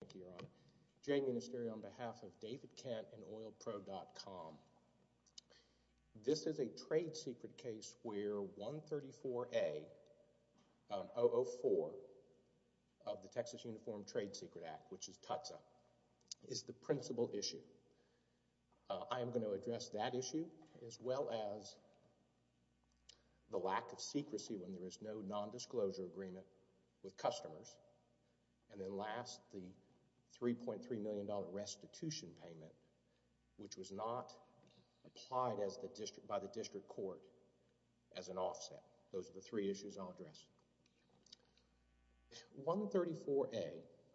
Thank you, Your Honor. J. Minister, on behalf of David Kent and OilPro.com, this is a trade secret case where 134A, 004 of the Texas Uniform Trade Secret Act, which is TUTSA, is the principal issue. I am going to address that issue as well as the lack of secrecy when there is no nondisclosure agreement with customers, and then last, the $3.3 million restitution payment, which was not applied by the district court as an offset. Those are the three issues I'll address. 134A,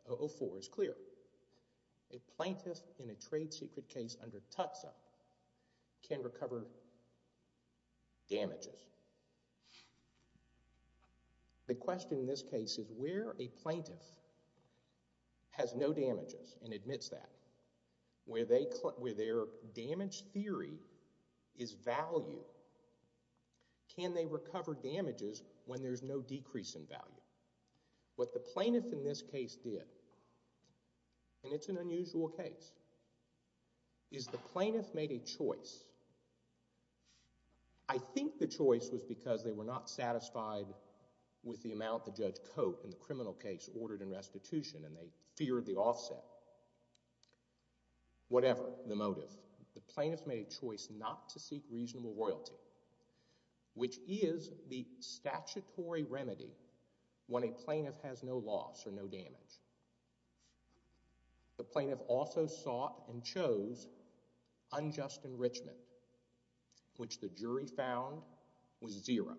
004, is clear. A plaintiff in a trade secret case under TUTSA can recover damages. The question in this case is where a plaintiff has no damages and admits that, where their damage theory is value, can they recover damages when there is no decrease in value? What the plaintiff in this case did, and it's an unusual case, is the plaintiff made a choice. I think the choice was because they were not satisfied with the amount that Judge Cote in the criminal case ordered in restitution, and they feared the offset, whatever the motive. The plaintiff made a choice not to seek reasonable royalty, which is the statutory remedy when a plaintiff has no loss or no damage. The plaintiff also sought and chose unjust enrichment, which the jury found was zero.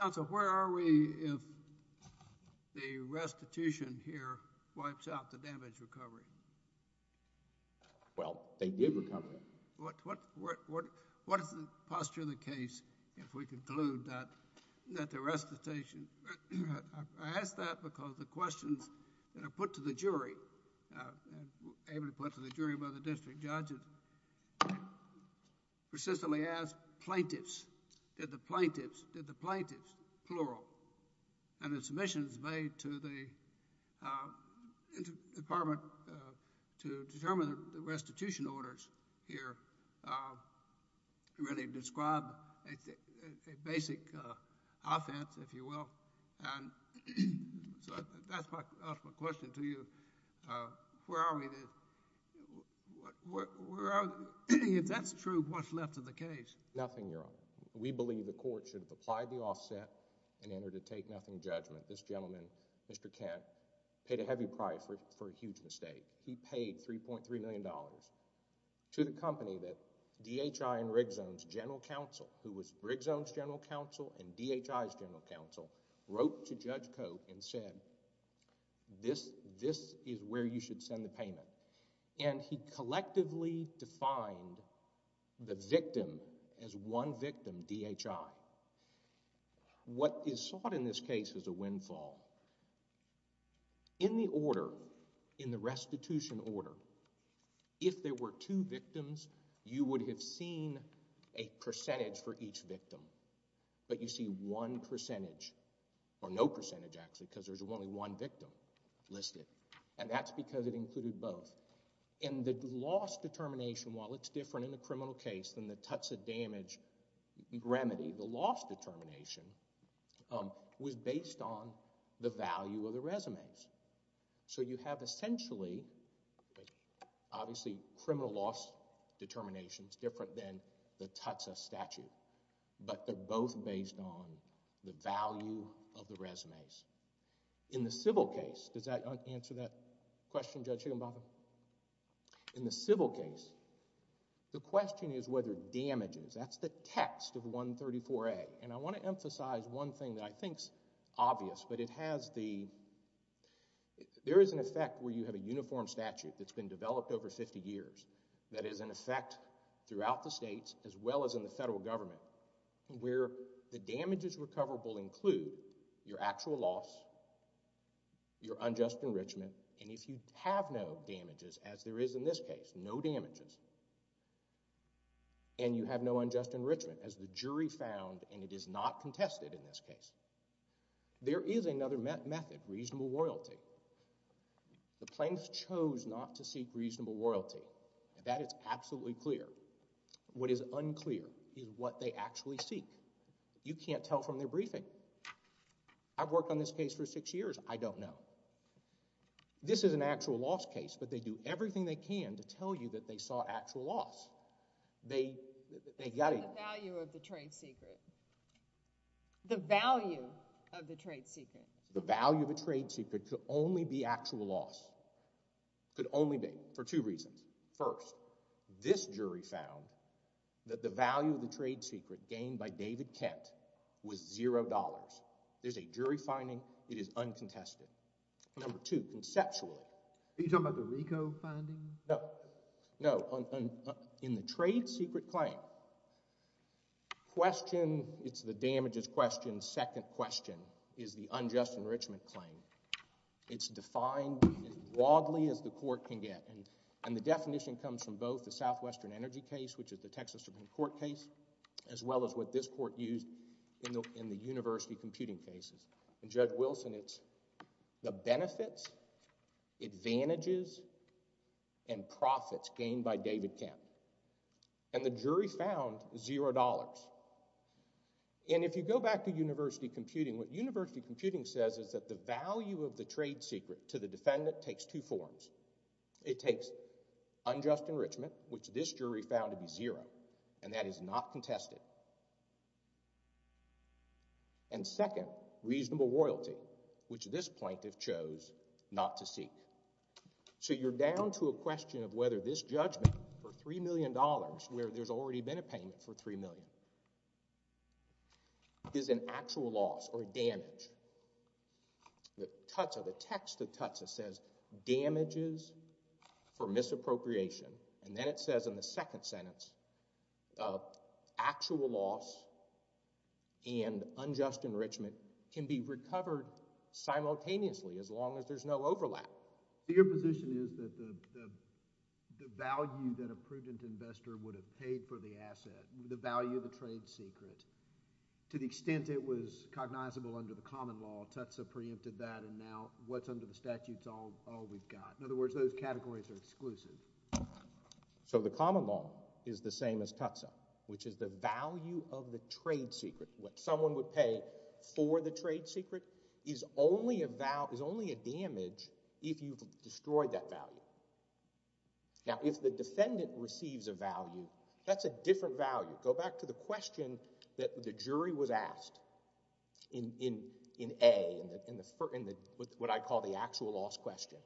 Counsel, where are we if the restitution here wipes out the damage recovery? Well, they did recover it. What is the posture of the case if we conclude that the restitution, I ask that because the restitution orders that are put to the jury, able to put to the jury by the district judges, persistently ask plaintiffs, did the plaintiffs, plural, and the submissions made to the department to determine the restitution orders here really describe a basic offense, if you will, and So that's my question to you. Where are we, if that's true, what's left of the case? Nothing, Your Honor. We believe the court should have applied the offset and entered a take-nothing judgment. This gentleman, Mr. Kent, paid a heavy price for a huge mistake. He paid $3.3 million to the company that DHI and Rigzones General Counsel, who was Rigzones General Counsel and DHI's General Counsel, wrote to Judge Cote and said, this is where you should send the payment. And he collectively defined the victim as one victim, DHI. What is sought in this case is a windfall. In the order, in the restitution order, if there were two victims, you would have seen a percentage for each victim, but you see one percentage, or no percentage, actually, because there's only one victim listed. And that's because it included both. And the loss determination, while it's different in the criminal case than the touch-the-damage remedy, the loss determination was based on the value of the resumes. So you have essentially, obviously, criminal loss determinations different than the TUTSA statute, but they're both based on the value of the resumes. In the civil case, does that answer that question, Judge Higginbotham? In the civil case, the question is whether damages, that's the text of 134A, and I want to emphasize one thing that I think is obvious, but it has the, there is an effect where you have a uniform statute that's been developed over 50 years that is an effect throughout the states, as well as in the federal government, where the damages recoverable include your actual loss, your unjust enrichment, and if you have no damages, as there is in this case, no damages, and you have no unjust enrichment, as the jury found, and it is not contested in this case. There is another method, reasonable royalty. The plaintiffs chose not to seek reasonable royalty, and that is absolutely clear. What is unclear is what they actually seek. You can't tell from their briefing. I've worked on this case for six years. I don't know. This is an actual loss case, but they do everything they can to tell you that they saw actual loss. They, they got it. What about the value of the trade secret? The value of the trade secret? The value of the trade secret could only be actual loss, could only be, for two reasons. First, this jury found that the value of the trade secret gained by David Kent was zero dollars. There's a jury finding. It is uncontested. Number two, conceptually. Are you talking about the RICO finding? No, no. In the trade secret claim, question, it's the damages question, second question is the unjust enrichment claim. It's defined as broadly as the court can get, and the definition comes from both the Southwestern Energy case, which is the Texas Supreme Court case, as well as what this court used in the university computing cases. And Judge Wilson, it's the benefits, advantages, and profits gained by David Kent. And the jury found zero dollars. And if you go back to university computing, what university computing says is that the value of the trade secret to the defendant takes two forms. It takes unjust enrichment, which this jury found to be zero, and that is not contested. And second, reasonable royalty, which this plaintiff chose not to seek. So you're down to a question of whether this judgment for $3 million, where there's already been a payment for $3 million, is an actual loss or a damage. The text of the Tutsis says damages for misappropriation, and then it says in the second sentence, actual loss and unjust enrichment can be recovered simultaneously as long as there's no overlap. Your position is that the value that a prudent investor would have paid for the asset, the value of the trade secret, to the extent it was cognizable under the common law, Tutsi preempted that, and now what's under the statute is all we've got. In other words, those categories are exclusive. So the common law is the same as Tutsi, which is the value of the trade secret. What someone would pay for the trade secret is only a damage if you've destroyed that value. Now, if the defendant receives a value, that's a different value. Go back to the question that the jury was asked in A, in what I call the actual loss question.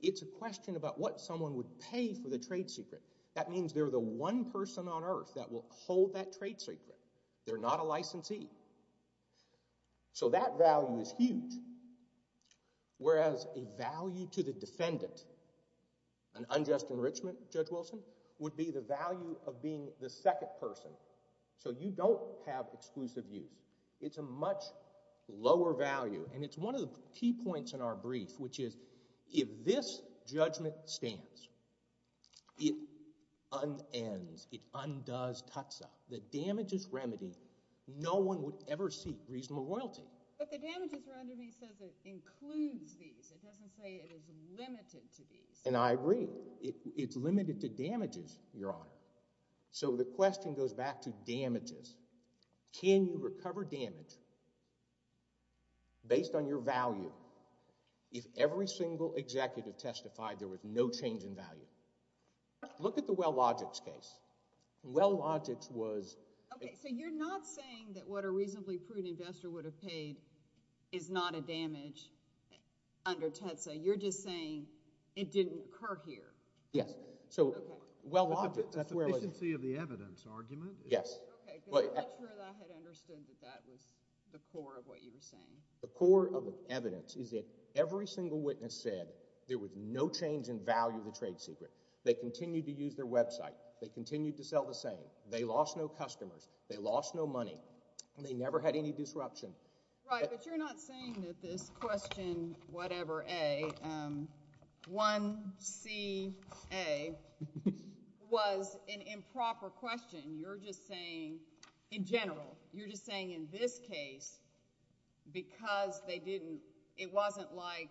It's a question about what someone would pay for the trade secret. That means they're the one person on earth that will hold that trade secret. They're not a licensee. So that value is huge, whereas a value to the defendant, an unjust enrichment, Judge Wilson, would be the value of being the second person. So you don't have exclusive use. It's a much lower value. And it's one of the key points in our brief, which is if this judgment stands, it unends. It undoes Tutsi. The damages remedy, no one would ever seek reasonable royalty. But the damages remedy says it includes these. It doesn't say it is limited to these. And I agree. It's limited to damages, Your Honor. So the question goes back to damages. Can you recover damage based on your value if every single executive testified there was no change in value? Look at the Wellogix case. Wellogix was— Okay. So you're not saying that what a reasonably prudent investor would have paid is not a damage under Tutsi. You're just saying it didn't occur here. Yes. So Wellogix— The sufficiency of the evidence argument? Yes. Okay. Because I'm not sure that I had understood that that was the core of what you were saying. The core of the evidence is that every single witness said there was no change in value of the trade secret. They continued to use their website. They continued to sell the same. They lost no customers. They lost no money. They never had any disruption. Right. But you're not saying that this question, whatever, A, 1C, A, was an improper question. You're just saying, in general, you're just saying in this case, because they didn't—it wasn't like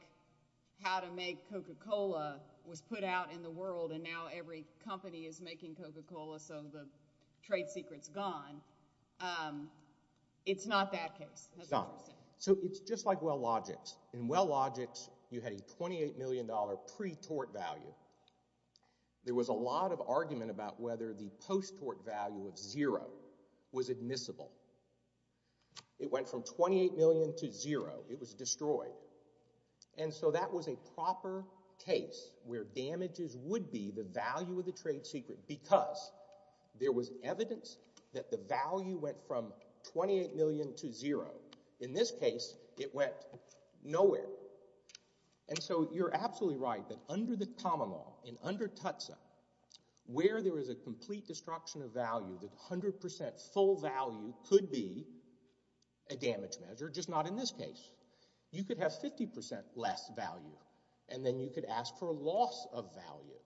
how to make Coca-Cola was put out in the world and now every company is making Coca-Cola so the trade secret's gone. It's not that case. It's not. So it's just like Wellogix. In Wellogix, you had a $28 million pre-tort value. There was a lot of argument about whether the post-tort value of zero was admissible. It went from $28 million to zero. It was destroyed. And so that was a proper case where damages would be the value of the trade secret because there was evidence that the value went from $28 million to zero. In this case, it went nowhere. And so you're absolutely right that under the common law and under TUTSA, where there is a complete destruction of value, the 100 percent full value could be a damage measure, just not in this case. You could have 50 percent less value and then you could ask for a loss of value.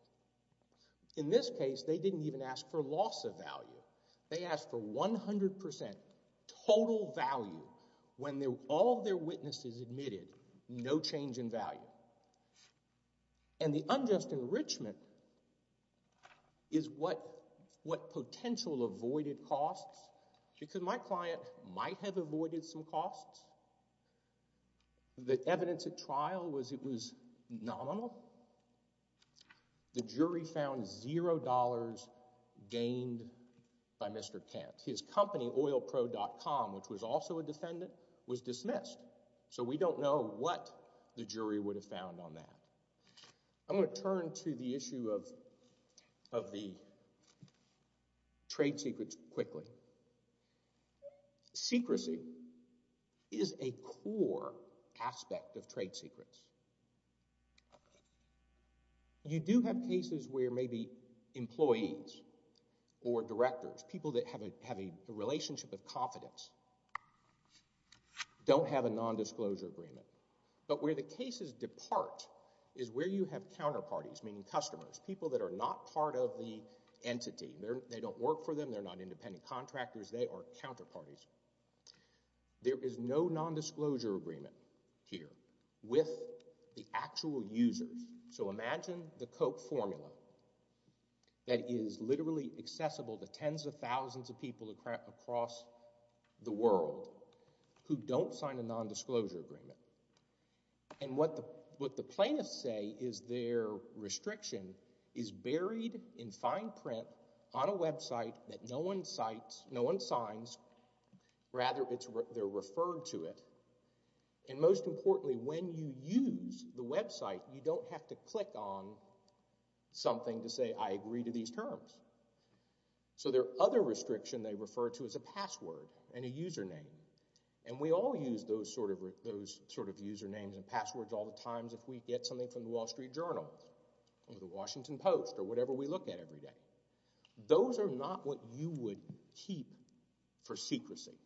In this case, they didn't even ask for loss of value. They asked for 100 percent total value when all of their witnesses admitted no change in value. And the unjust enrichment is what potential avoided costs because my client might have avoided some costs. The evidence at trial was it was nominal. The jury found zero dollars gained by Mr. Kent. His company, oilpro.com, which was also a defendant, was dismissed. So we don't know what the jury would have found on that. I'm going to turn to the issue of the trade secrets quickly. Secrecy is a core aspect of trade secrets. You do have cases where maybe employees or directors, people that have a relationship of confidence, don't have a nondisclosure agreement. But where the cases depart is where you have counterparties, meaning customers, people that are not part of the entity. They don't work for them. They're not independent contractors. They are counterparties. There is no nondisclosure agreement here with the actual users. So imagine the Coke formula that is literally accessible to tens of thousands of people across the world who don't sign a nondisclosure agreement. And what the plaintiffs say is their restriction is buried in fine print on a website that no one signs. Rather, they're referred to it. And most importantly, when you use the website, you don't have to click on something to say, I agree to these terms. So their other restriction they refer to is a password and a username. And we all use those sort of usernames and passwords all the times if we get something from the Wall Street Journal or the Washington Post or whatever we look at every day. Those are not what you would keep for secrecy.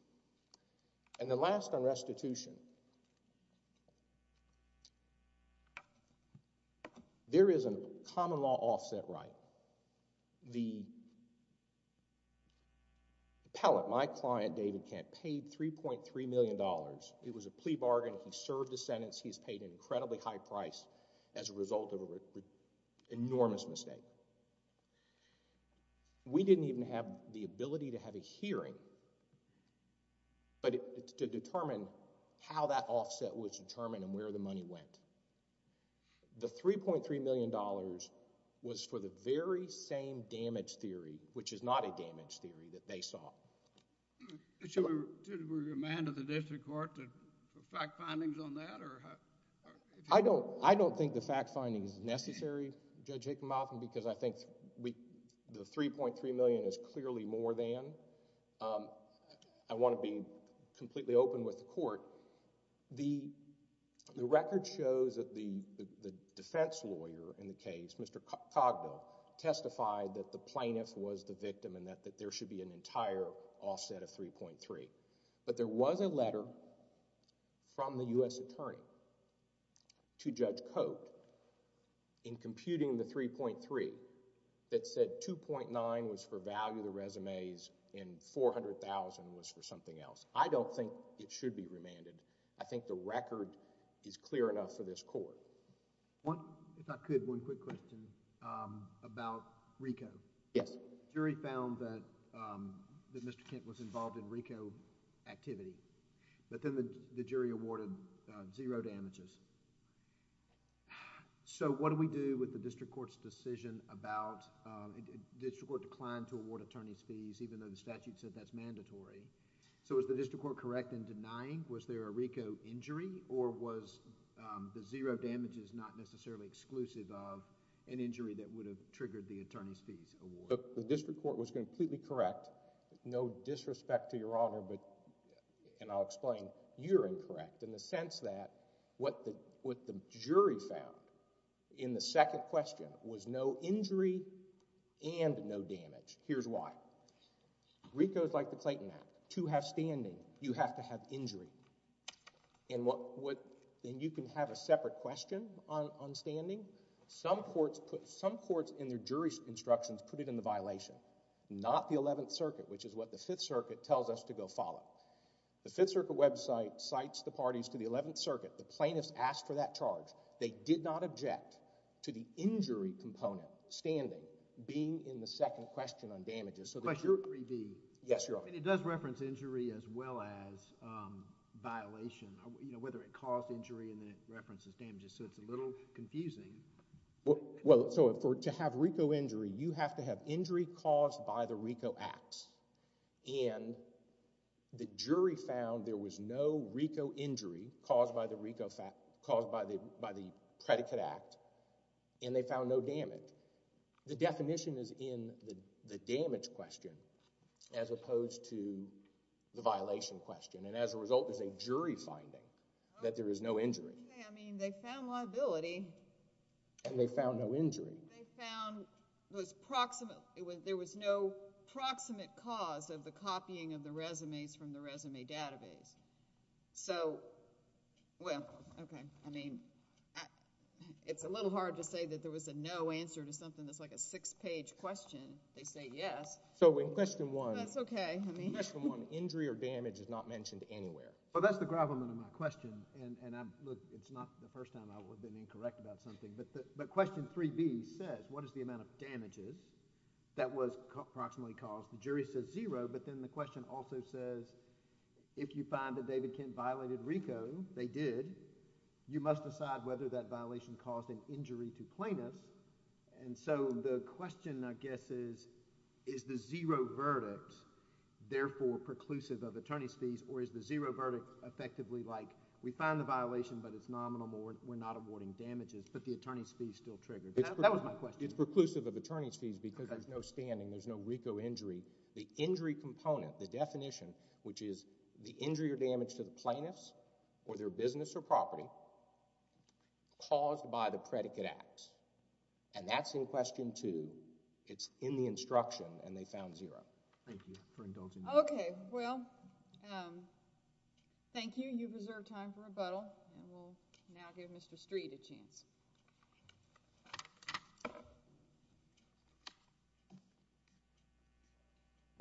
And the last on restitution, there is a common law offset right. The appellate, my client, David Kent, paid $3.3 million. It was a plea bargain. He served his sentence. He's paid an incredibly high price as a result of an enormous mistake. We didn't even have the ability to have a hearing, but it's to determine how that offset was determined and where the money went. The $3.3 million was for the very same damage theory, which is not a damage theory, that they saw. So did we demand of the district court the fact findings on that? I don't think the fact finding is necessary, Judge Hickenbotham, because I think we the $3.3 million is clearly more than. I want to be completely open with the court. The record shows that the defense lawyer in the case, Mr. Cogdell, testified that the plaintiff was the victim and that there should be an entire offset of $3.3. But there was a letter from the U.S. attorney to Judge Coate in computing the $3.3 that said $2.9 was for value of the resumes and $400,000 was for something else. I don't think it should be remanded. I think the record is clear enough for this court. If I could, one quick question about RICO. Yes. Jury found that Mr. Kent was involved in RICO activity, but then the jury awarded zero damages. So, what do we do with the district court's decision about... the district court declined to award attorney's fees even though the statute said that's mandatory. So, is the district court correct in denying? Was there a RICO injury or was the zero damages not necessarily exclusive of an injury that would have triggered the attorney's fees award? The district court was completely correct. No disrespect to Your Honor, but... and I'll explain. You're incorrect. In the sense that what the jury found in the second question was no injury and no damage. Here's why. RICO is like the Clayton Act. To have standing, you have to have injury. And what... and you can have a separate question on standing. Some courts put... some courts in their jury instructions put it in the violation, not the Eleventh Circuit, which is what the Fifth Circuit tells us to go follow. The Fifth Circuit website cites the parties to the Eleventh Circuit. The plaintiffs asked for that charge. They did not object to the injury component, standing, being in the second question on damages. But you're in 3D. Yes, Your Honor. And it does reference injury as well as violation, you know, whether it caused injury and then it references damages. So, it's a little confusing. Well, so to have RICO injury, you have to have injury caused by the RICO acts. And the jury found there was no RICO injury caused by the RICO... caused by the... by the predicate act. And they found no damage. The definition is in the damage question as opposed to the violation question. And as a result, there's a jury finding that there is no injury. I mean, they found liability. And they found no injury. They found there was no proximate cause of the copying of the resumes from the resume database. So, well, okay. I mean, it's a little hard to say that there was a no answer to something that's like a six-page question. They say yes. So, in Question 1... That's okay. In Question 1, injury or damage is not mentioned anywhere. Well, that's the gravamen of my question. And look, it's not the first time I've been incorrect about something. But Question 3B says, what is the amount of damages that was approximately caused? The jury says zero. But then the question also says, if you find that David Kent violated RICO... They did. You must decide whether that violation caused an injury to plaintiffs. And so, the question, I guess, is, is the zero verdict therefore preclusive of attorney's fees? Or is the zero verdict effectively like, we found the violation, but it's nominal or we're not awarding damages. But the attorney's fees still triggered. That was my question. It's preclusive of attorney's fees because there's no standing. There's no RICO injury. The injury component, the definition, which is the injury or damage to the plaintiffs or their business or property caused by the predicate acts. And that's in Question 2. It's in the instruction. And they found zero. Thank you for indulging me. Okay. Well, thank you. You've reserved time for rebuttal. And we'll now give Mr. Street a chance.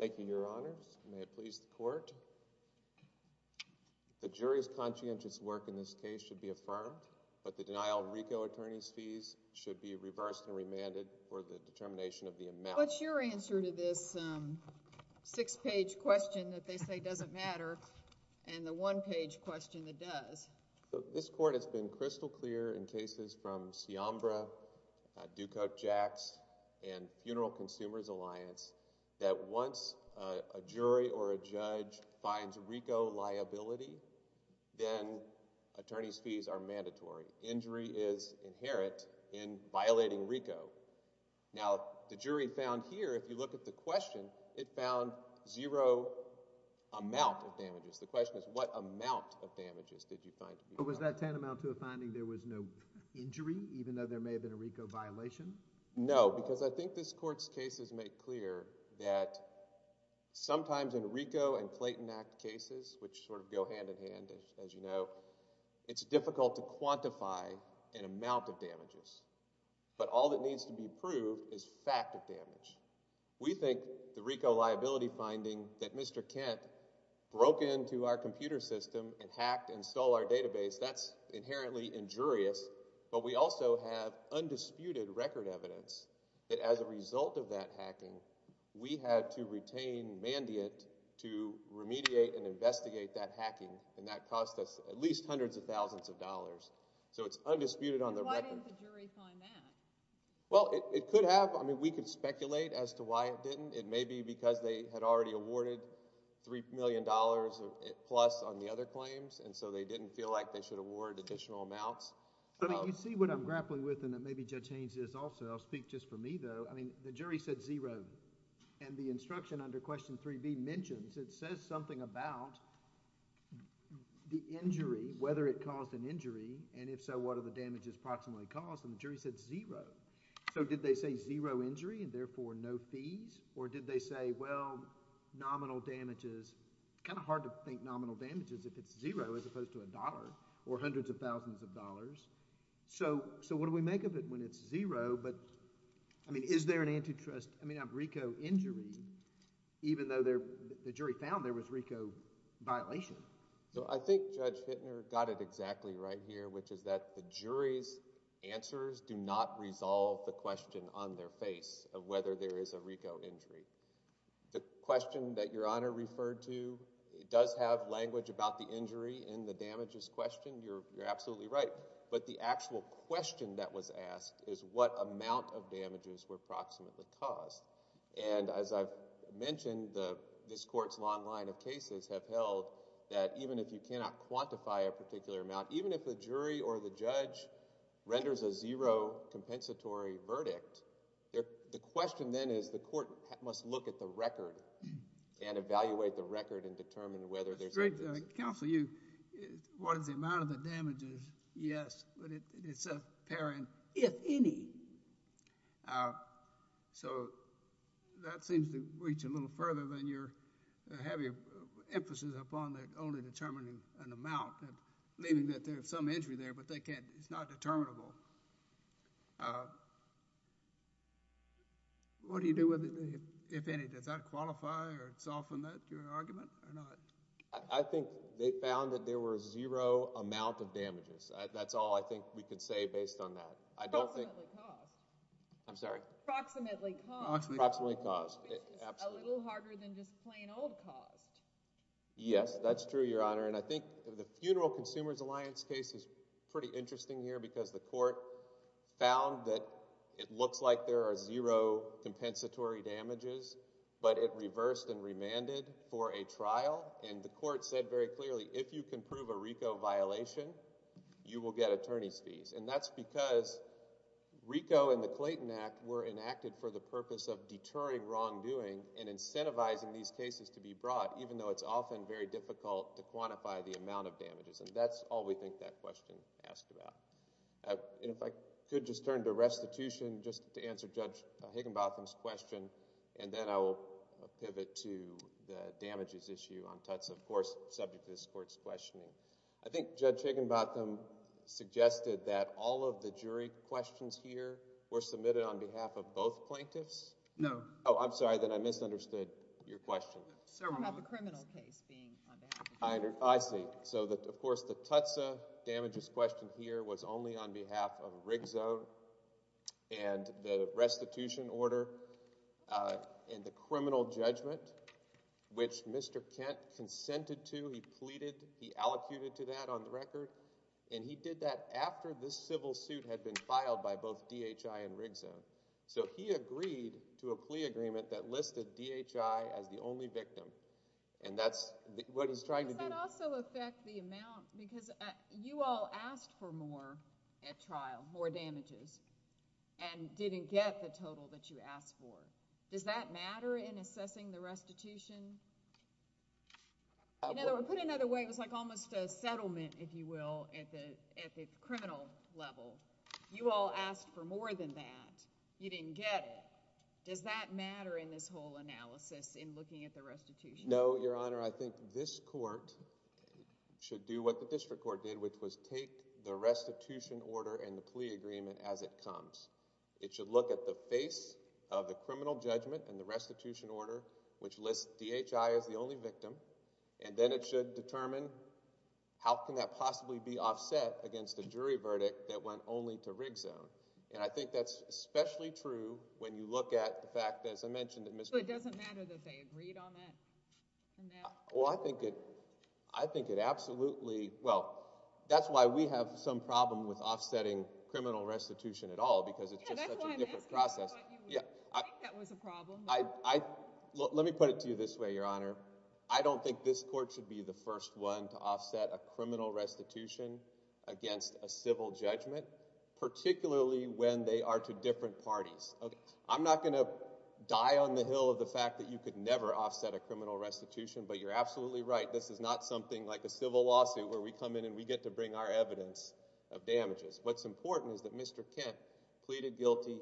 Thank you, Your Honors. May it please the Court. The jury's conscientious work in this case should be affirmed. But the denial of RICO attorney's fees should be reversed and remanded for the determination of the amount. What's your answer to this six-page question that they say doesn't matter and the one-page question that does? This Court has been crystal clear in cases from Ciambra, Dukok Jacks, and Funeral Consumers Alliance that once a jury or a judge finds RICO liability, then attorney's fees are mandatory. Injury is inherent in violating RICO. Now, the jury found here, if you look at the question, it found zero amount of damages. The question is, what amount of damages did you find to be— Was that tantamount to a finding there was no injury, even though there may have been a RICO violation? No, because I think this Court's cases make clear that sometimes in RICO and Clayton Act cases, which sort of go hand in hand, as you know, it's difficult to quantify an amount of damages. But all that needs to be proved is fact of damage. We think the RICO liability finding that Mr. Kent broke into our computer system and hacked and stole our database, that's inherently injurious, but we also have undisputed record evidence that as a result of that hacking, we had to retain mandate to remediate and investigate that hacking, and that cost us at least hundreds of thousands of dollars. So it's undisputed on the record. Why didn't the jury find that? Well, it could have. I mean, we could speculate as to why it didn't. It may be because they had already awarded $3 million plus on the other claims, and so they didn't feel like they should award additional amounts. But you see what I'm grappling with, and maybe Judge Haynes is also. I'll speak just for me, though. I mean, the jury said zero, and the instruction under Question 3B mentions, it says something about the injury, whether it caused an injury, and if so, what are the damages approximately caused? And the jury said zero. So did they say zero injury and therefore no fees, or did they say, well, nominal damages? Kind of hard to think nominal damages if it's zero as opposed to a dollar or hundreds of thousands of dollars. So what do we make of it when it's zero? But, I mean, is there an antitrust—I mean, a RICO injury, even though the jury found there was RICO violation? So I think Judge Hittner got it exactly right here, which is that the jury's answers do not resolve the question on their face of whether there is a RICO injury. The question that Your Honor referred to does have language about the injury and the damages question. You're absolutely right. But the actual question that was asked is what amount of damages were approximately caused? And as I've mentioned, this Court's long line of cases have held that even if you cannot quantify a particular amount, even if the jury or the judge renders a zero compensatory verdict, the question then is the Court must look at the record and evaluate the record and determine whether there's— It's great that counsel, you—what is the amount of the damages? Yes. But it's apparent, if any. So that seems to reach a little further when you're having emphasis upon the only determining an amount and leaving that there's some injury there, but they can't—it's not determinable. What do you do with it, if any? Does that qualify or soften that, your argument, or not? I think they found that there were zero amount of damages. That's all I think we could say based on that. I don't think— Approximately caused. I'm sorry? Approximately caused. Approximately caused. A little harder than just plain old caused. Yes, that's true, Your Honor. And I think the Funeral Consumers Alliance case is pretty interesting here because the Court found that it looks like there are zero compensatory damages, but it reversed and remanded for a trial. And the Court said very clearly, if you can prove a RICO violation, you will get attorney's fees. And that's because RICO and the Clayton Act were enacted for the purpose of it's often very difficult to quantify the amount of damages. And that's all we think that question asked about. And if I could just turn to restitution, just to answer Judge Higginbotham's question, and then I will pivot to the damages issue on Tuts, of course, subject to this Court's questioning. I think Judge Higginbotham suggested that all of the jury questions here were submitted on behalf of both plaintiffs? No. Oh, I'm sorry. Then I misunderstood your question. It's about the criminal case being on behalf of the jury. I see. So, of course, the Tuts damages question here was only on behalf of RIGZO and the restitution order and the criminal judgment, which Mr. Kent consented to. He pleaded. He allocated to that on the record. And he did that after this civil suit had been filed by both DHI and RIGZO. So he agreed to a plea agreement that listed DHI as the only victim. And that's what he's trying to do. Does that also affect the amount? Because you all asked for more at trial, more damages, and didn't get the total that you asked for. Does that matter in assessing the restitution? In other words, put another way, it was like almost a settlement, if you will, at the criminal level. You all asked for more than that. You didn't get it. Does that matter in this whole analysis in looking at the restitution? No, Your Honor. I think this court should do what the district court did, which was take the restitution order and the plea agreement as it comes. It should look at the face of the criminal judgment and the restitution order, which lists DHI as the only victim. And then it should determine how can that possibly be offset against the jury verdict that went only to RIGZO. And I think that's especially true when you look at the fact, as I mentioned, that Mr. So it doesn't matter that they agreed on that? Well, I think it absolutely. Well, that's why we have some problem with offsetting criminal restitution at all, because it's just such a different process. Let me put it to you this way, Your Honor. I'm not going to die on the hill of the fact that you could never offset a criminal restitution, but you're absolutely right. This is not something like a civil lawsuit where we come in and we get to bring our evidence of damages. What's important is that Mr. Kent pleaded guilty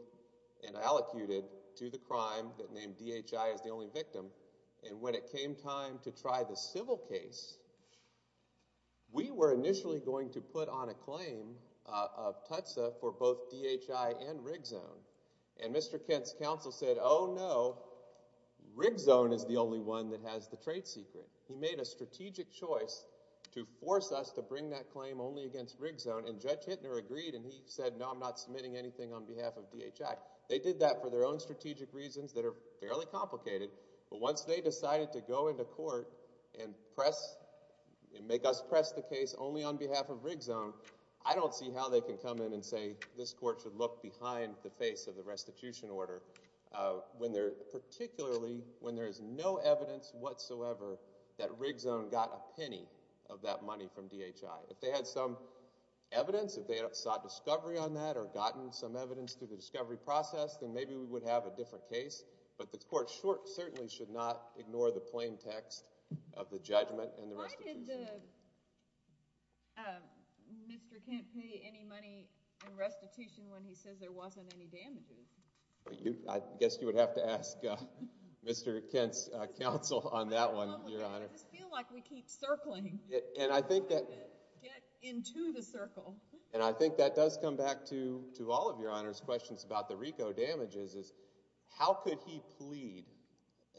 and allocated to the crime that named DHI as the only victim. And when it came time to try the civil case, we were initially going to put on a claim of TUTSA for both DHI and RIGZO. And Mr. Kent's counsel said, oh, no, RIGZO is the only one that has the trade secret. He made a strategic choice to force us to bring that claim only against RIGZO. And Judge Hintner agreed, and he said, no, I'm not submitting anything on behalf of DHI. They did that for their own strategic reasons that are fairly complicated. But once they decided to go into court and make us press the case only on behalf of RIGZO, I don't see how they can come in and say this court should look behind the face of the restitution order, particularly when there is no evidence whatsoever that RIGZO got a penny of that money from DHI. If they had some evidence, if they had sought discovery on that or gotten some evidence through the discovery process, then maybe we would have a different case. But the court certainly should not ignore the plaintext of the judgment and the restitution. Why did Mr. Kent pay any money in restitution when he says there wasn't any damages? I guess you would have to ask Mr. Kent's counsel on that one, Your Honor. I just feel like we keep circling. Get into the circle. And I think that does come back to all of Your Honor's questions about the plea,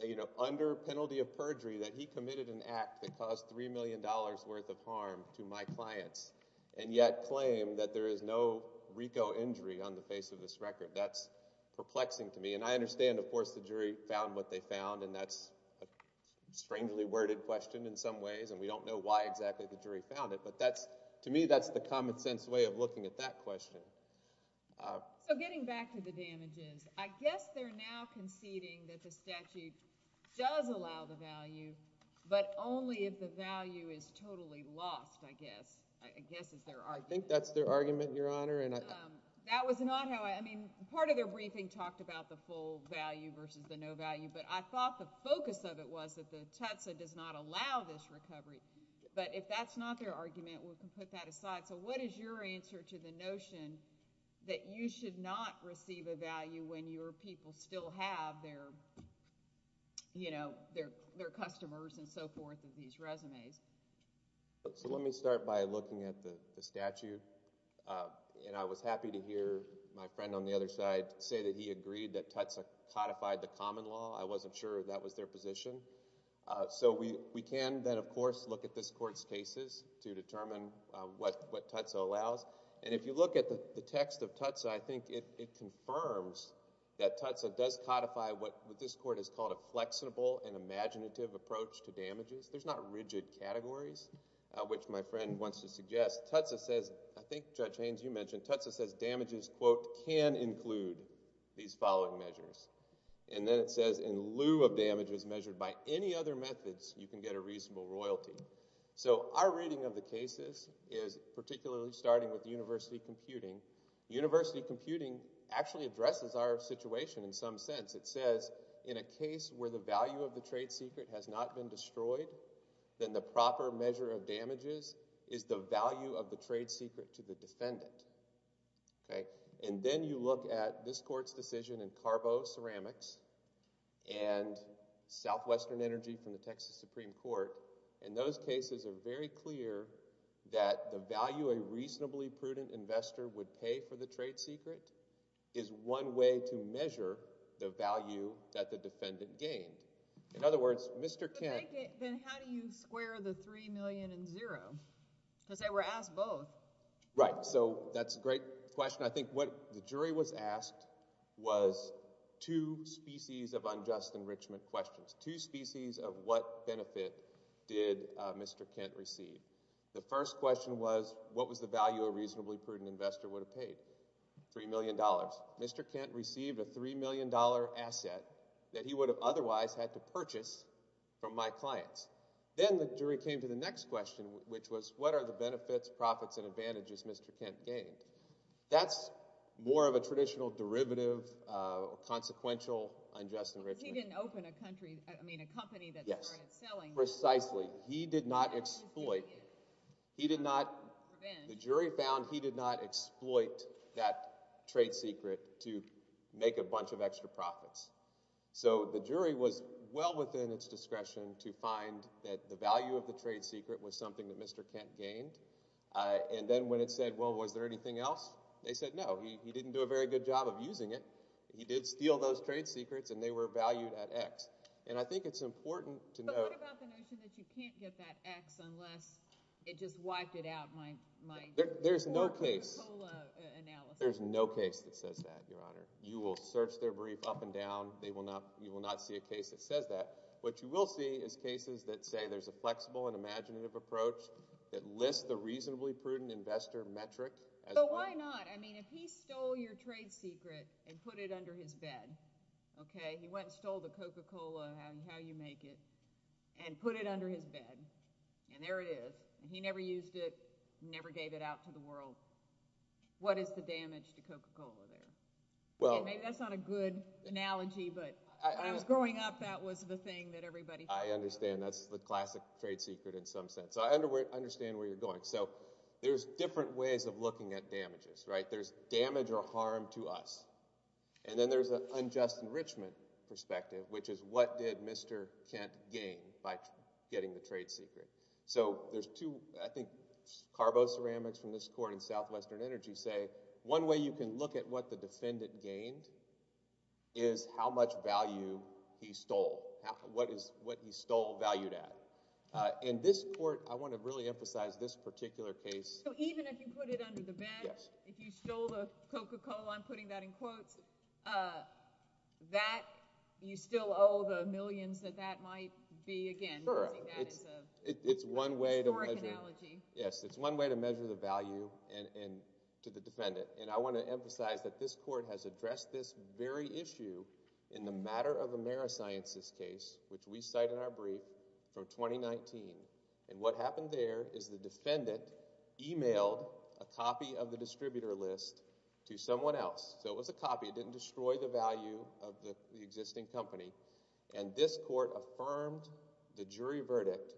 you know, under penalty of perjury, that he committed an act that cost $3 million worth of harm to my clients and yet claim that there is no RIGZO injury on the face of this record. That's perplexing to me. And I understand, of course, the jury found what they found. And that's a strangely worded question in some ways. And we don't know why exactly the jury found it. But to me, that's the common sense way of looking at that question. So getting back to the damages, I guess they're now conceding that the statute does allow the value, but only if the value is totally lost, I guess. I guess is their argument. I think that's their argument, Your Honor. And that was not how I mean, part of their briefing talked about the full value versus the no value. But I thought the focus of it was that the TATSA does not allow this recovery. But if that's not their argument, we can put that aside. So what is your answer to the notion that you should not receive a value when your people still have their, you know, their customers and so forth of these resumes? So let me start by looking at the statute. And I was happy to hear my friend on the other side say that he agreed that TATSA codified the common law. I wasn't sure that was their position. So we can then, of course, look at this court's cases to determine what TATSA allows. And if you look at the text of TATSA, I think it confirms that TATSA does codify what this court has called a flexible and imaginative approach to damages. There's not rigid categories, which my friend wants to suggest. TATSA says, I think Judge Haynes, you mentioned, TATSA says damages, quote, can include these following measures. And then it says, in lieu of damages measured by any other methods, you can get a reasonable royalty. So our reading of the cases is, particularly starting with university computing, university computing actually addresses our situation in some sense. It says, in a case where the value of the trade secret has not been destroyed, then the proper measure of damages is the value of the trade secret to the defendant. Okay? Then you look at this court's decision in Carbo Ceramics and Southwestern Energy from the Texas Supreme Court, and those cases are very clear that the value a reasonably prudent investor would pay for the trade secret is one way to measure the value that the defendant gained. In other words, Mr. Kent— But then how do you square the $3 million and zero? Because they were asked both. Right. So that's a great question. I think what the jury was asked was two species of unjust enrichment questions, two species of what benefit did Mr. Kent receive. The first question was, what was the value a reasonably prudent investor would have paid? $3 million. Mr. Kent received a $3 million asset that he would have otherwise had to purchase from my clients. Then the jury came to the next question, which was, what are the benefits, profits, and advantages Mr. Kent gained? That's more of a traditional derivative, consequential unjust enrichment. He didn't open a company that started selling. Precisely. He did not exploit. The jury found he did not exploit that trade secret to make a bunch of extra profits. So the jury was well within its discretion to find that the value of the trade secret was something that Mr. Kent gained. And then when it said, well, was there anything else? They said no. He didn't do a very good job of using it. He did steal those trade secrets, and they were valued at X. And I think it's important to know— But what about the notion that you can't get that X unless it just wiped it out, my Coca-Cola analysis? There's no case that says that, Your Honor. You will search their brief up and down. You will not see a case that says that. What you will see is cases that say there's a flexible and imaginative approach that lists the reasonably prudent investor metric as— So why not? I mean, if he stole your trade secret and put it under his bed, okay? He went and stole the Coca-Cola, how you make it, and put it under his bed, and there it is. He never used it, never gave it out to the world. What is the damage to Coca-Cola there? Maybe that's not a good analogy, but when I was growing up, that was the thing that everybody— I understand. That's the classic trade secret in some sense. I understand where you're going. So there's different ways of looking at damages, right? There's damage or harm to us. And then there's an unjust enrichment perspective, which is what did Mr. Kent gain by getting the trade secret? So there's two, I think, carboceramics from this court in Southwestern Energy say one way you can look at what the defendant gained is how much value he stole, valued at. In this court, I want to really emphasize this particular case— So even if you put it under the bed, if you stole the Coca-Cola, I'm putting that in quotes, that, you still owe the millions that that might be, again, using that as a historic analogy. Yes, it's one way to measure the value to the defendant. And I want to emphasize that this court has addressed this very issue in the Matter of Amerisciences case, which we cite in our brief, from 2019. And what happened there is the defendant emailed a copy of the distributor list to someone else. So it was a copy. It didn't destroy the value of the existing company. And this court affirmed the jury verdict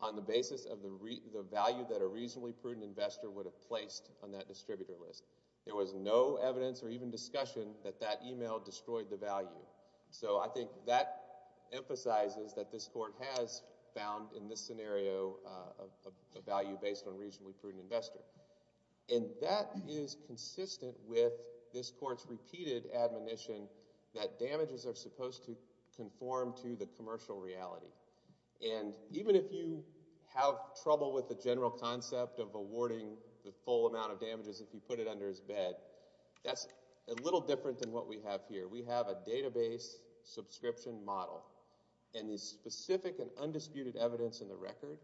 on the basis of the value that a reasonably prudent investor would have placed on that distributor list. There was no evidence or even discussion that that email destroyed the value. So I think that emphasizes that this court has found, in this scenario, a value based on a reasonably prudent investor. And that is consistent with this court's repeated admonition that damages are supposed to conform to the commercial reality. And even if you have trouble with the general concept of awarding the full amount of damages if you put it under his bed, that's a little different than what we have here. We have a database subscription model. And the specific and undisputed evidence in the record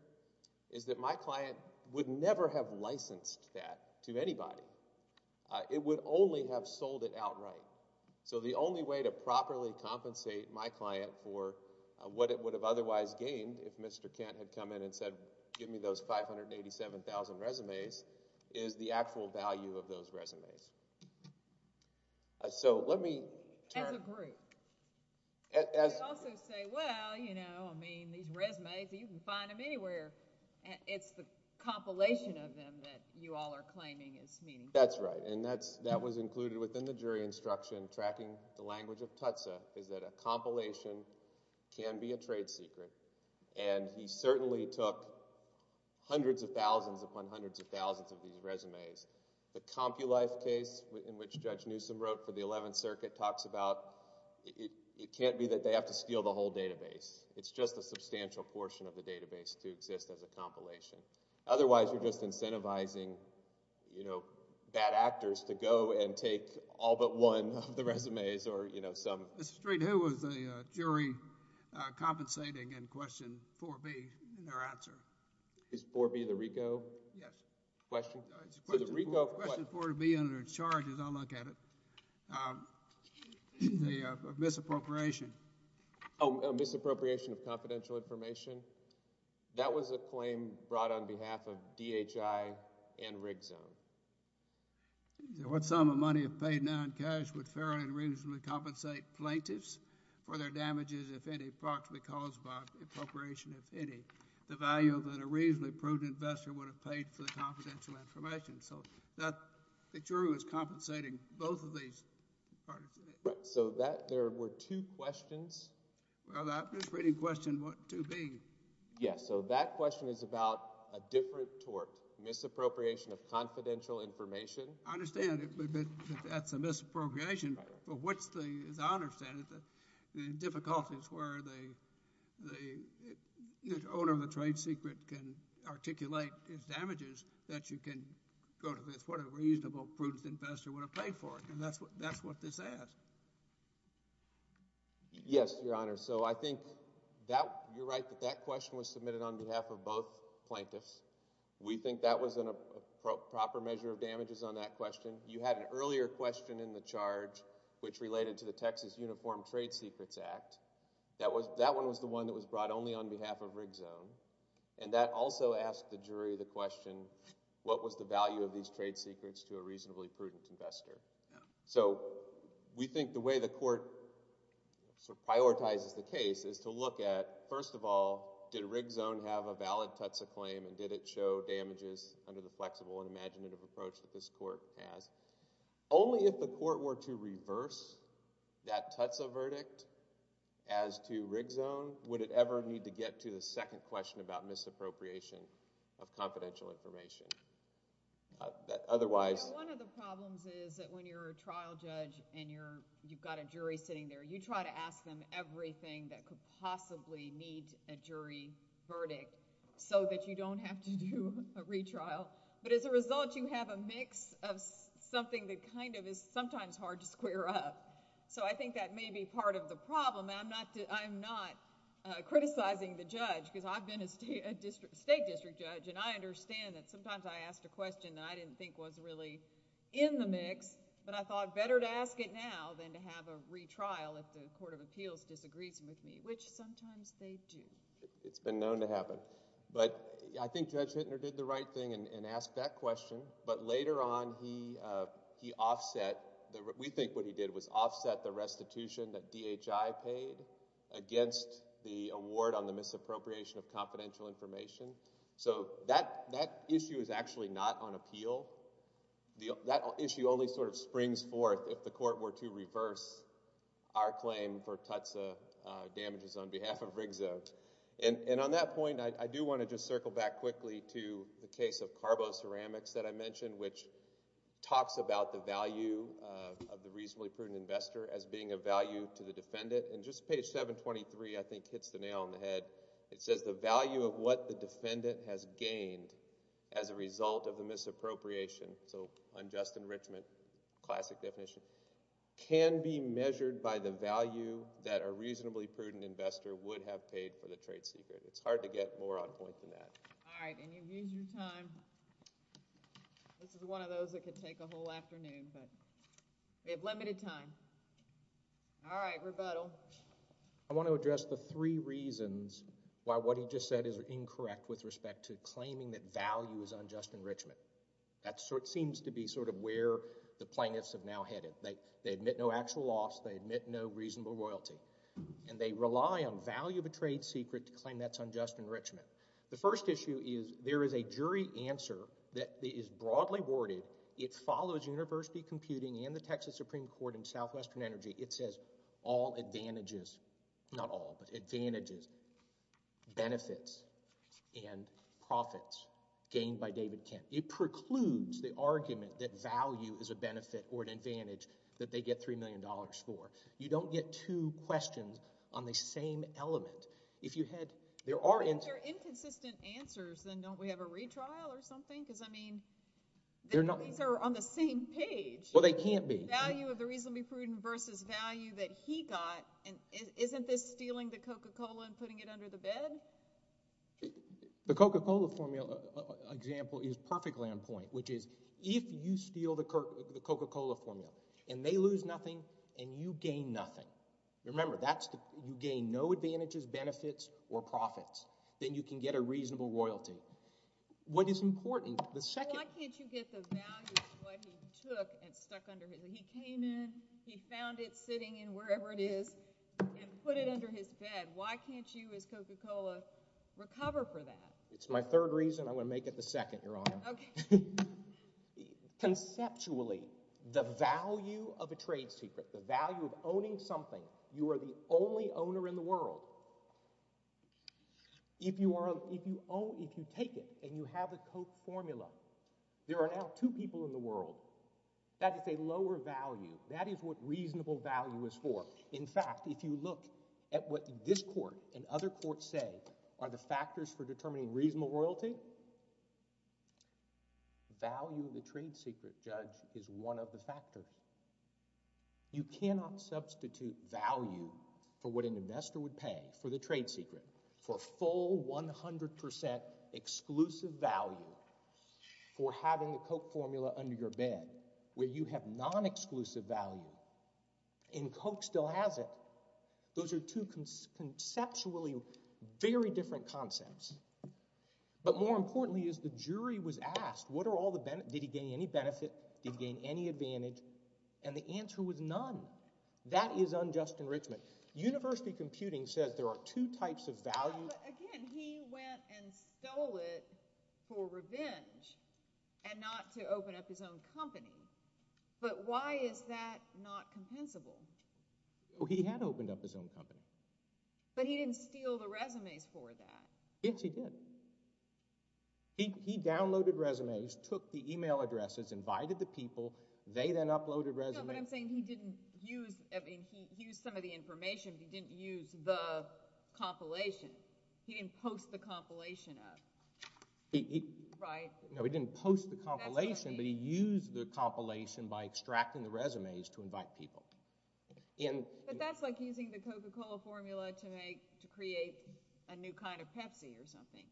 is that my client would never have licensed that to anybody. It would only have sold it outright. So the only way to properly compensate my client for what it would have otherwise gained if Mr. Kent had come in and said, give me those 587,000 resumes, is the actual value of those resumes. As a group, you could also say, well, you know, I mean, these resumes, you can find them anywhere. It's the compilation of them that you all are claiming is meaningful. That's right. And that was included within the jury instruction, tracking the language of Tutsa, is that a compilation can be a trade secret. And he certainly took hundreds of thousands upon hundreds of thousands of these resumes. The CompuLife case, in which Judge Newsom wrote for the 11th Circuit, talks about it can't be that they have to steal the whole database. It's just a substantial portion of the database to exist as a compilation. Otherwise, you're just incentivizing, you know, bad actors to go and take all but one of the resumes or, you know, some... Mr. Street, who was the jury compensating in question 4B in their answer? Is 4B the RICO? Yes. Question? It's question 4B under charges. I'll look at it. The misappropriation. Oh, misappropriation of confidential information. That was a claim brought on behalf of DHI and RIGZONE. What sum of money if paid non-cash would fairly and reasonably compensate plaintiffs for their damages, if any, approximately caused by appropriation, if any, the value that a reasonably prudent investor would have paid for confidential information? So that... the jury was compensating both of these parties. Right. So that... there were two questions? Well, that misreading question, 2B. Yes. So that question is about a different tort, misappropriation of confidential information. I understand that that's a misappropriation. But what's the... as I understand it, the difficulties where the owner of the that you can go to this, what a reasonable prudent investor would have paid for it. And that's what this says. Yes, Your Honor. So I think that... you're right that that question was submitted on behalf of both plaintiffs. We think that was a proper measure of damages on that question. You had an earlier question in the charge which related to the Texas Uniform Trade Secrets Act. That was... that one was the one that was brought only on behalf of RIGZONE. And that also asked the jury the question, what was the value of these trade secrets to a reasonably prudent investor? So we think the way the court sort of prioritizes the case is to look at, first of all, did RIGZONE have a valid TUTSA claim and did it show damages under the flexible and imaginative approach that this court has? Only if the court were to reverse that TUTSA verdict as to RIGZONE would it need to get to the second question about misappropriation of confidential information. Otherwise... One of the problems is that when you're a trial judge and you've got a jury sitting there, you try to ask them everything that could possibly meet a jury verdict so that you don't have to do a retrial. But as a result, you have a mix of something that kind of is sometimes hard to square up. So I think that may be part of the problem. I'm not criticizing the judge because I've been a state district judge and I understand that sometimes I asked a question that I didn't think was really in the mix, but I thought better to ask it now than to have a retrial if the Court of Appeals disagrees with me, which sometimes they do. It's been known to happen. But I think Judge Hittner did the right thing and asked that question. But later on, he offset... we think what he did was offset the restitution that DHI paid against the award on the misappropriation of confidential information. So that issue is actually not on appeal. That issue only sort of springs forth if the court were to reverse our claim for Tutsa damages on behalf of Rigsdale. And on that point, I do want to just circle back quickly to the case of CarboCeramics that I mentioned, which talks about the value of the reasonably prudent investor as being of value to the defendant. And just page 723, I think, hits the nail on the head. It says, the value of what the defendant has gained as a result of the misappropriation... so unjust enrichment, classic definition... can be measured by the value that a reasonably prudent investor would have paid for the trade secret. It's hard to get more on point than that. All right, and you've used your time. This is one of those that could take a whole afternoon, but we have limited time. All right, rebuttal. I want to address the three reasons why what he just said is incorrect with respect to claiming that value is unjust enrichment. That seems to be sort of where the plaintiffs have now headed. They admit no actual loss. They admit no reasonable royalty. And they rely on value of a trade secret to claim that's unjust enrichment. The first issue is there is a jury answer that is broadly worded. It follows university computing and the Texas Supreme Court and Southwestern Energy. It says, all advantages... not all, but advantages... benefits and profits gained by David Kent. It precludes the argument that value is a benefit or an advantage that they get $3 million for. You don't get two questions on the same element. If you had... there are... If they're inconsistent answers, then don't we have a retrial or something? Because, I mean, these are on the same page. Well, they can't be. Value of the reasonably prudent versus value that he got. And isn't this stealing the Coca-Cola and putting it under the bed? The Coca-Cola formula example is perfectly on point, which is if you steal the Coca-Cola formula and they lose nothing and you gain nothing. Remember, that's the... you gain no advantages, benefits, or profits. Then you can get a reasonable royalty. What is important, the second... Why can't you get the value of what he took and stuck under his... he came in, he found it sitting in wherever it is, and put it under his bed. Why can't you as Coca-Cola recover for that? It's my third reason. I'm going to make it the second, Your Honor. Conceptually, the value of a trade secret, the value of owning something, you are the only owner in the world. If you take it and you have a Coke formula, there are now two people in the world. That is a lower value. That is what reasonable value is for. In fact, if you look at what this court and other courts say are the factors for determining reasonable royalty, value of the trade secret, Judge, is one of the factors. You cannot substitute value for what an investor would pay for the trade secret, for full 100% exclusive value for having the Coke formula under your bed, where you have non-exclusive value, and Coke still has it. Those are two conceptually very different concepts. But more importantly is the jury was asked, what are all the benefits? Did he gain any benefit? Did he gain any advantage? And the answer was none. That is unjust enrichment. University computing says there are two types of value. Again, he went and stole it for revenge and not to open up his own company. But why is that not compensable? He had opened up his own company. But he didn't steal the resumes for that. Yes, he did. He downloaded resumes, took the email addresses, invited the people. They then uploaded resumes. But I'm saying he didn't use, I mean, he used some of the information, but he didn't use the compilation. He didn't post the compilation up, right? No, he didn't post the compilation, but he used the compilation by extracting the resumes to invite people. But that's like using the Coca-Cola formula to make, to create a new kind of Pepsi or something,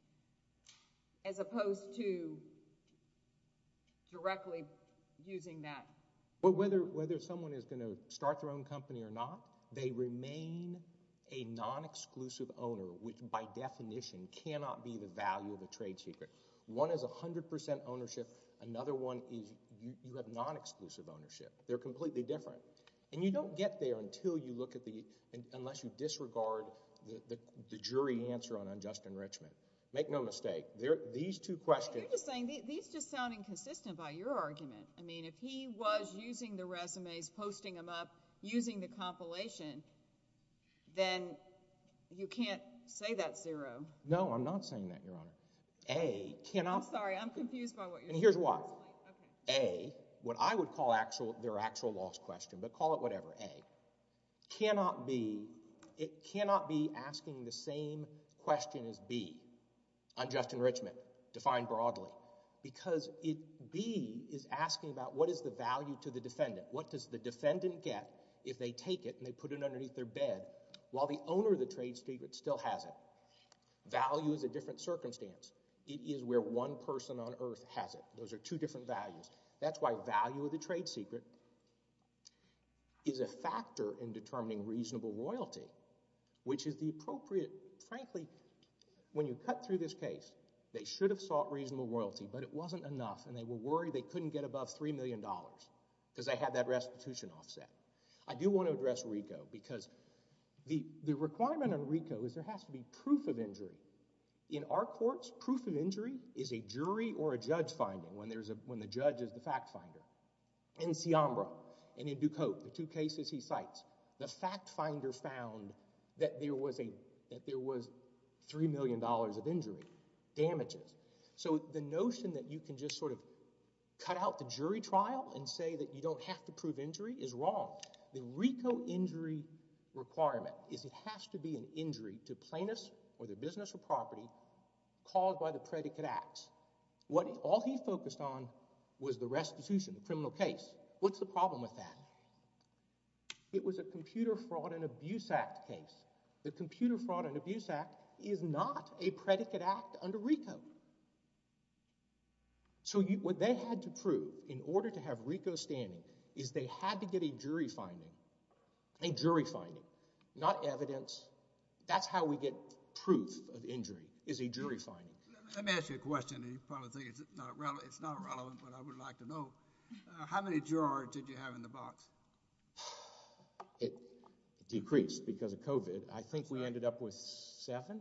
as opposed to directly using that. But whether someone is going to start their own company or not, they remain a non-exclusive owner, which by definition cannot be the value of a trade secret. One is 100% ownership. Another one is you have non-exclusive ownership. They're completely different. And you don't get there until you look at the, unless you disregard the jury answer on unjust enrichment. Make no mistake, these two questions— You're just saying, these just sound inconsistent by your argument. I mean, if he was using the resumes, posting them up, using the compilation, then you can't say that's zero. No, I'm not saying that, Your Honor. A cannot— I'm sorry, I'm confused by what you're saying. Here's why. A, what I would call their actual lost question, but call it whatever, A, cannot be, it cannot be asking the same question as B on just enrichment, defined broadly. Because B is asking about what is the value to the defendant? What does the defendant get if they take it and they put it underneath their bed while the owner of the trade secret still has it? Value is a different circumstance. It is where one person on earth has it. Those are two different values. That's why value of the trade secret is a factor in determining reasonable royalty, which is the appropriate— should have sought reasonable royalty, but it wasn't enough. And they were worried they couldn't get above $3 million because they had that restitution offset. I do want to address RICO because the requirement on RICO is there has to be proof of injury. In our courts, proof of injury is a jury or a judge finding when the judge is the fact finder. In Siambra and in Ducote, the two cases he cites, the fact finder found that there was $3 million of injury damages. So the notion that you can just sort of cut out the jury trial and say that you don't have to prove injury is wrong. The RICO injury requirement is it has to be an injury to plaintiffs or their business or property caused by the predicate acts. All he focused on was the restitution, the criminal case. What's the problem with that? It was a Computer Fraud and Abuse Act case. The Computer Fraud and Abuse Act is not a predicate act under RICO. So what they had to prove in order to have RICO standing is they had to get a jury finding, a jury finding, not evidence. That's how we get proof of injury is a jury finding. Let me ask you a question. You probably think it's not relevant, but I would like to know. How many jurors did you have in the box? It decreased because of COVID. I think we ended up with seven.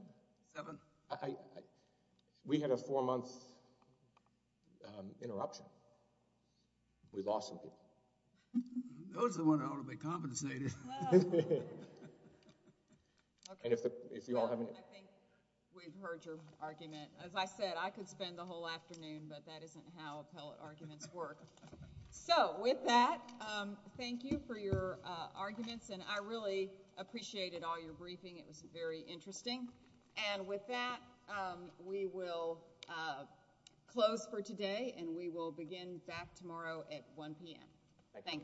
We had a four-month interruption. We lost some people. Those are the ones that ought to be compensated. And if you all haven't... I think we've heard your argument. As I said, I could spend the whole afternoon, but that isn't how appellate arguments work. So with that, thank you for your arguments. And I really appreciated all your briefing. It was very interesting. And with that, we will close for today and we will begin back tomorrow at 1 p.m. Thank you.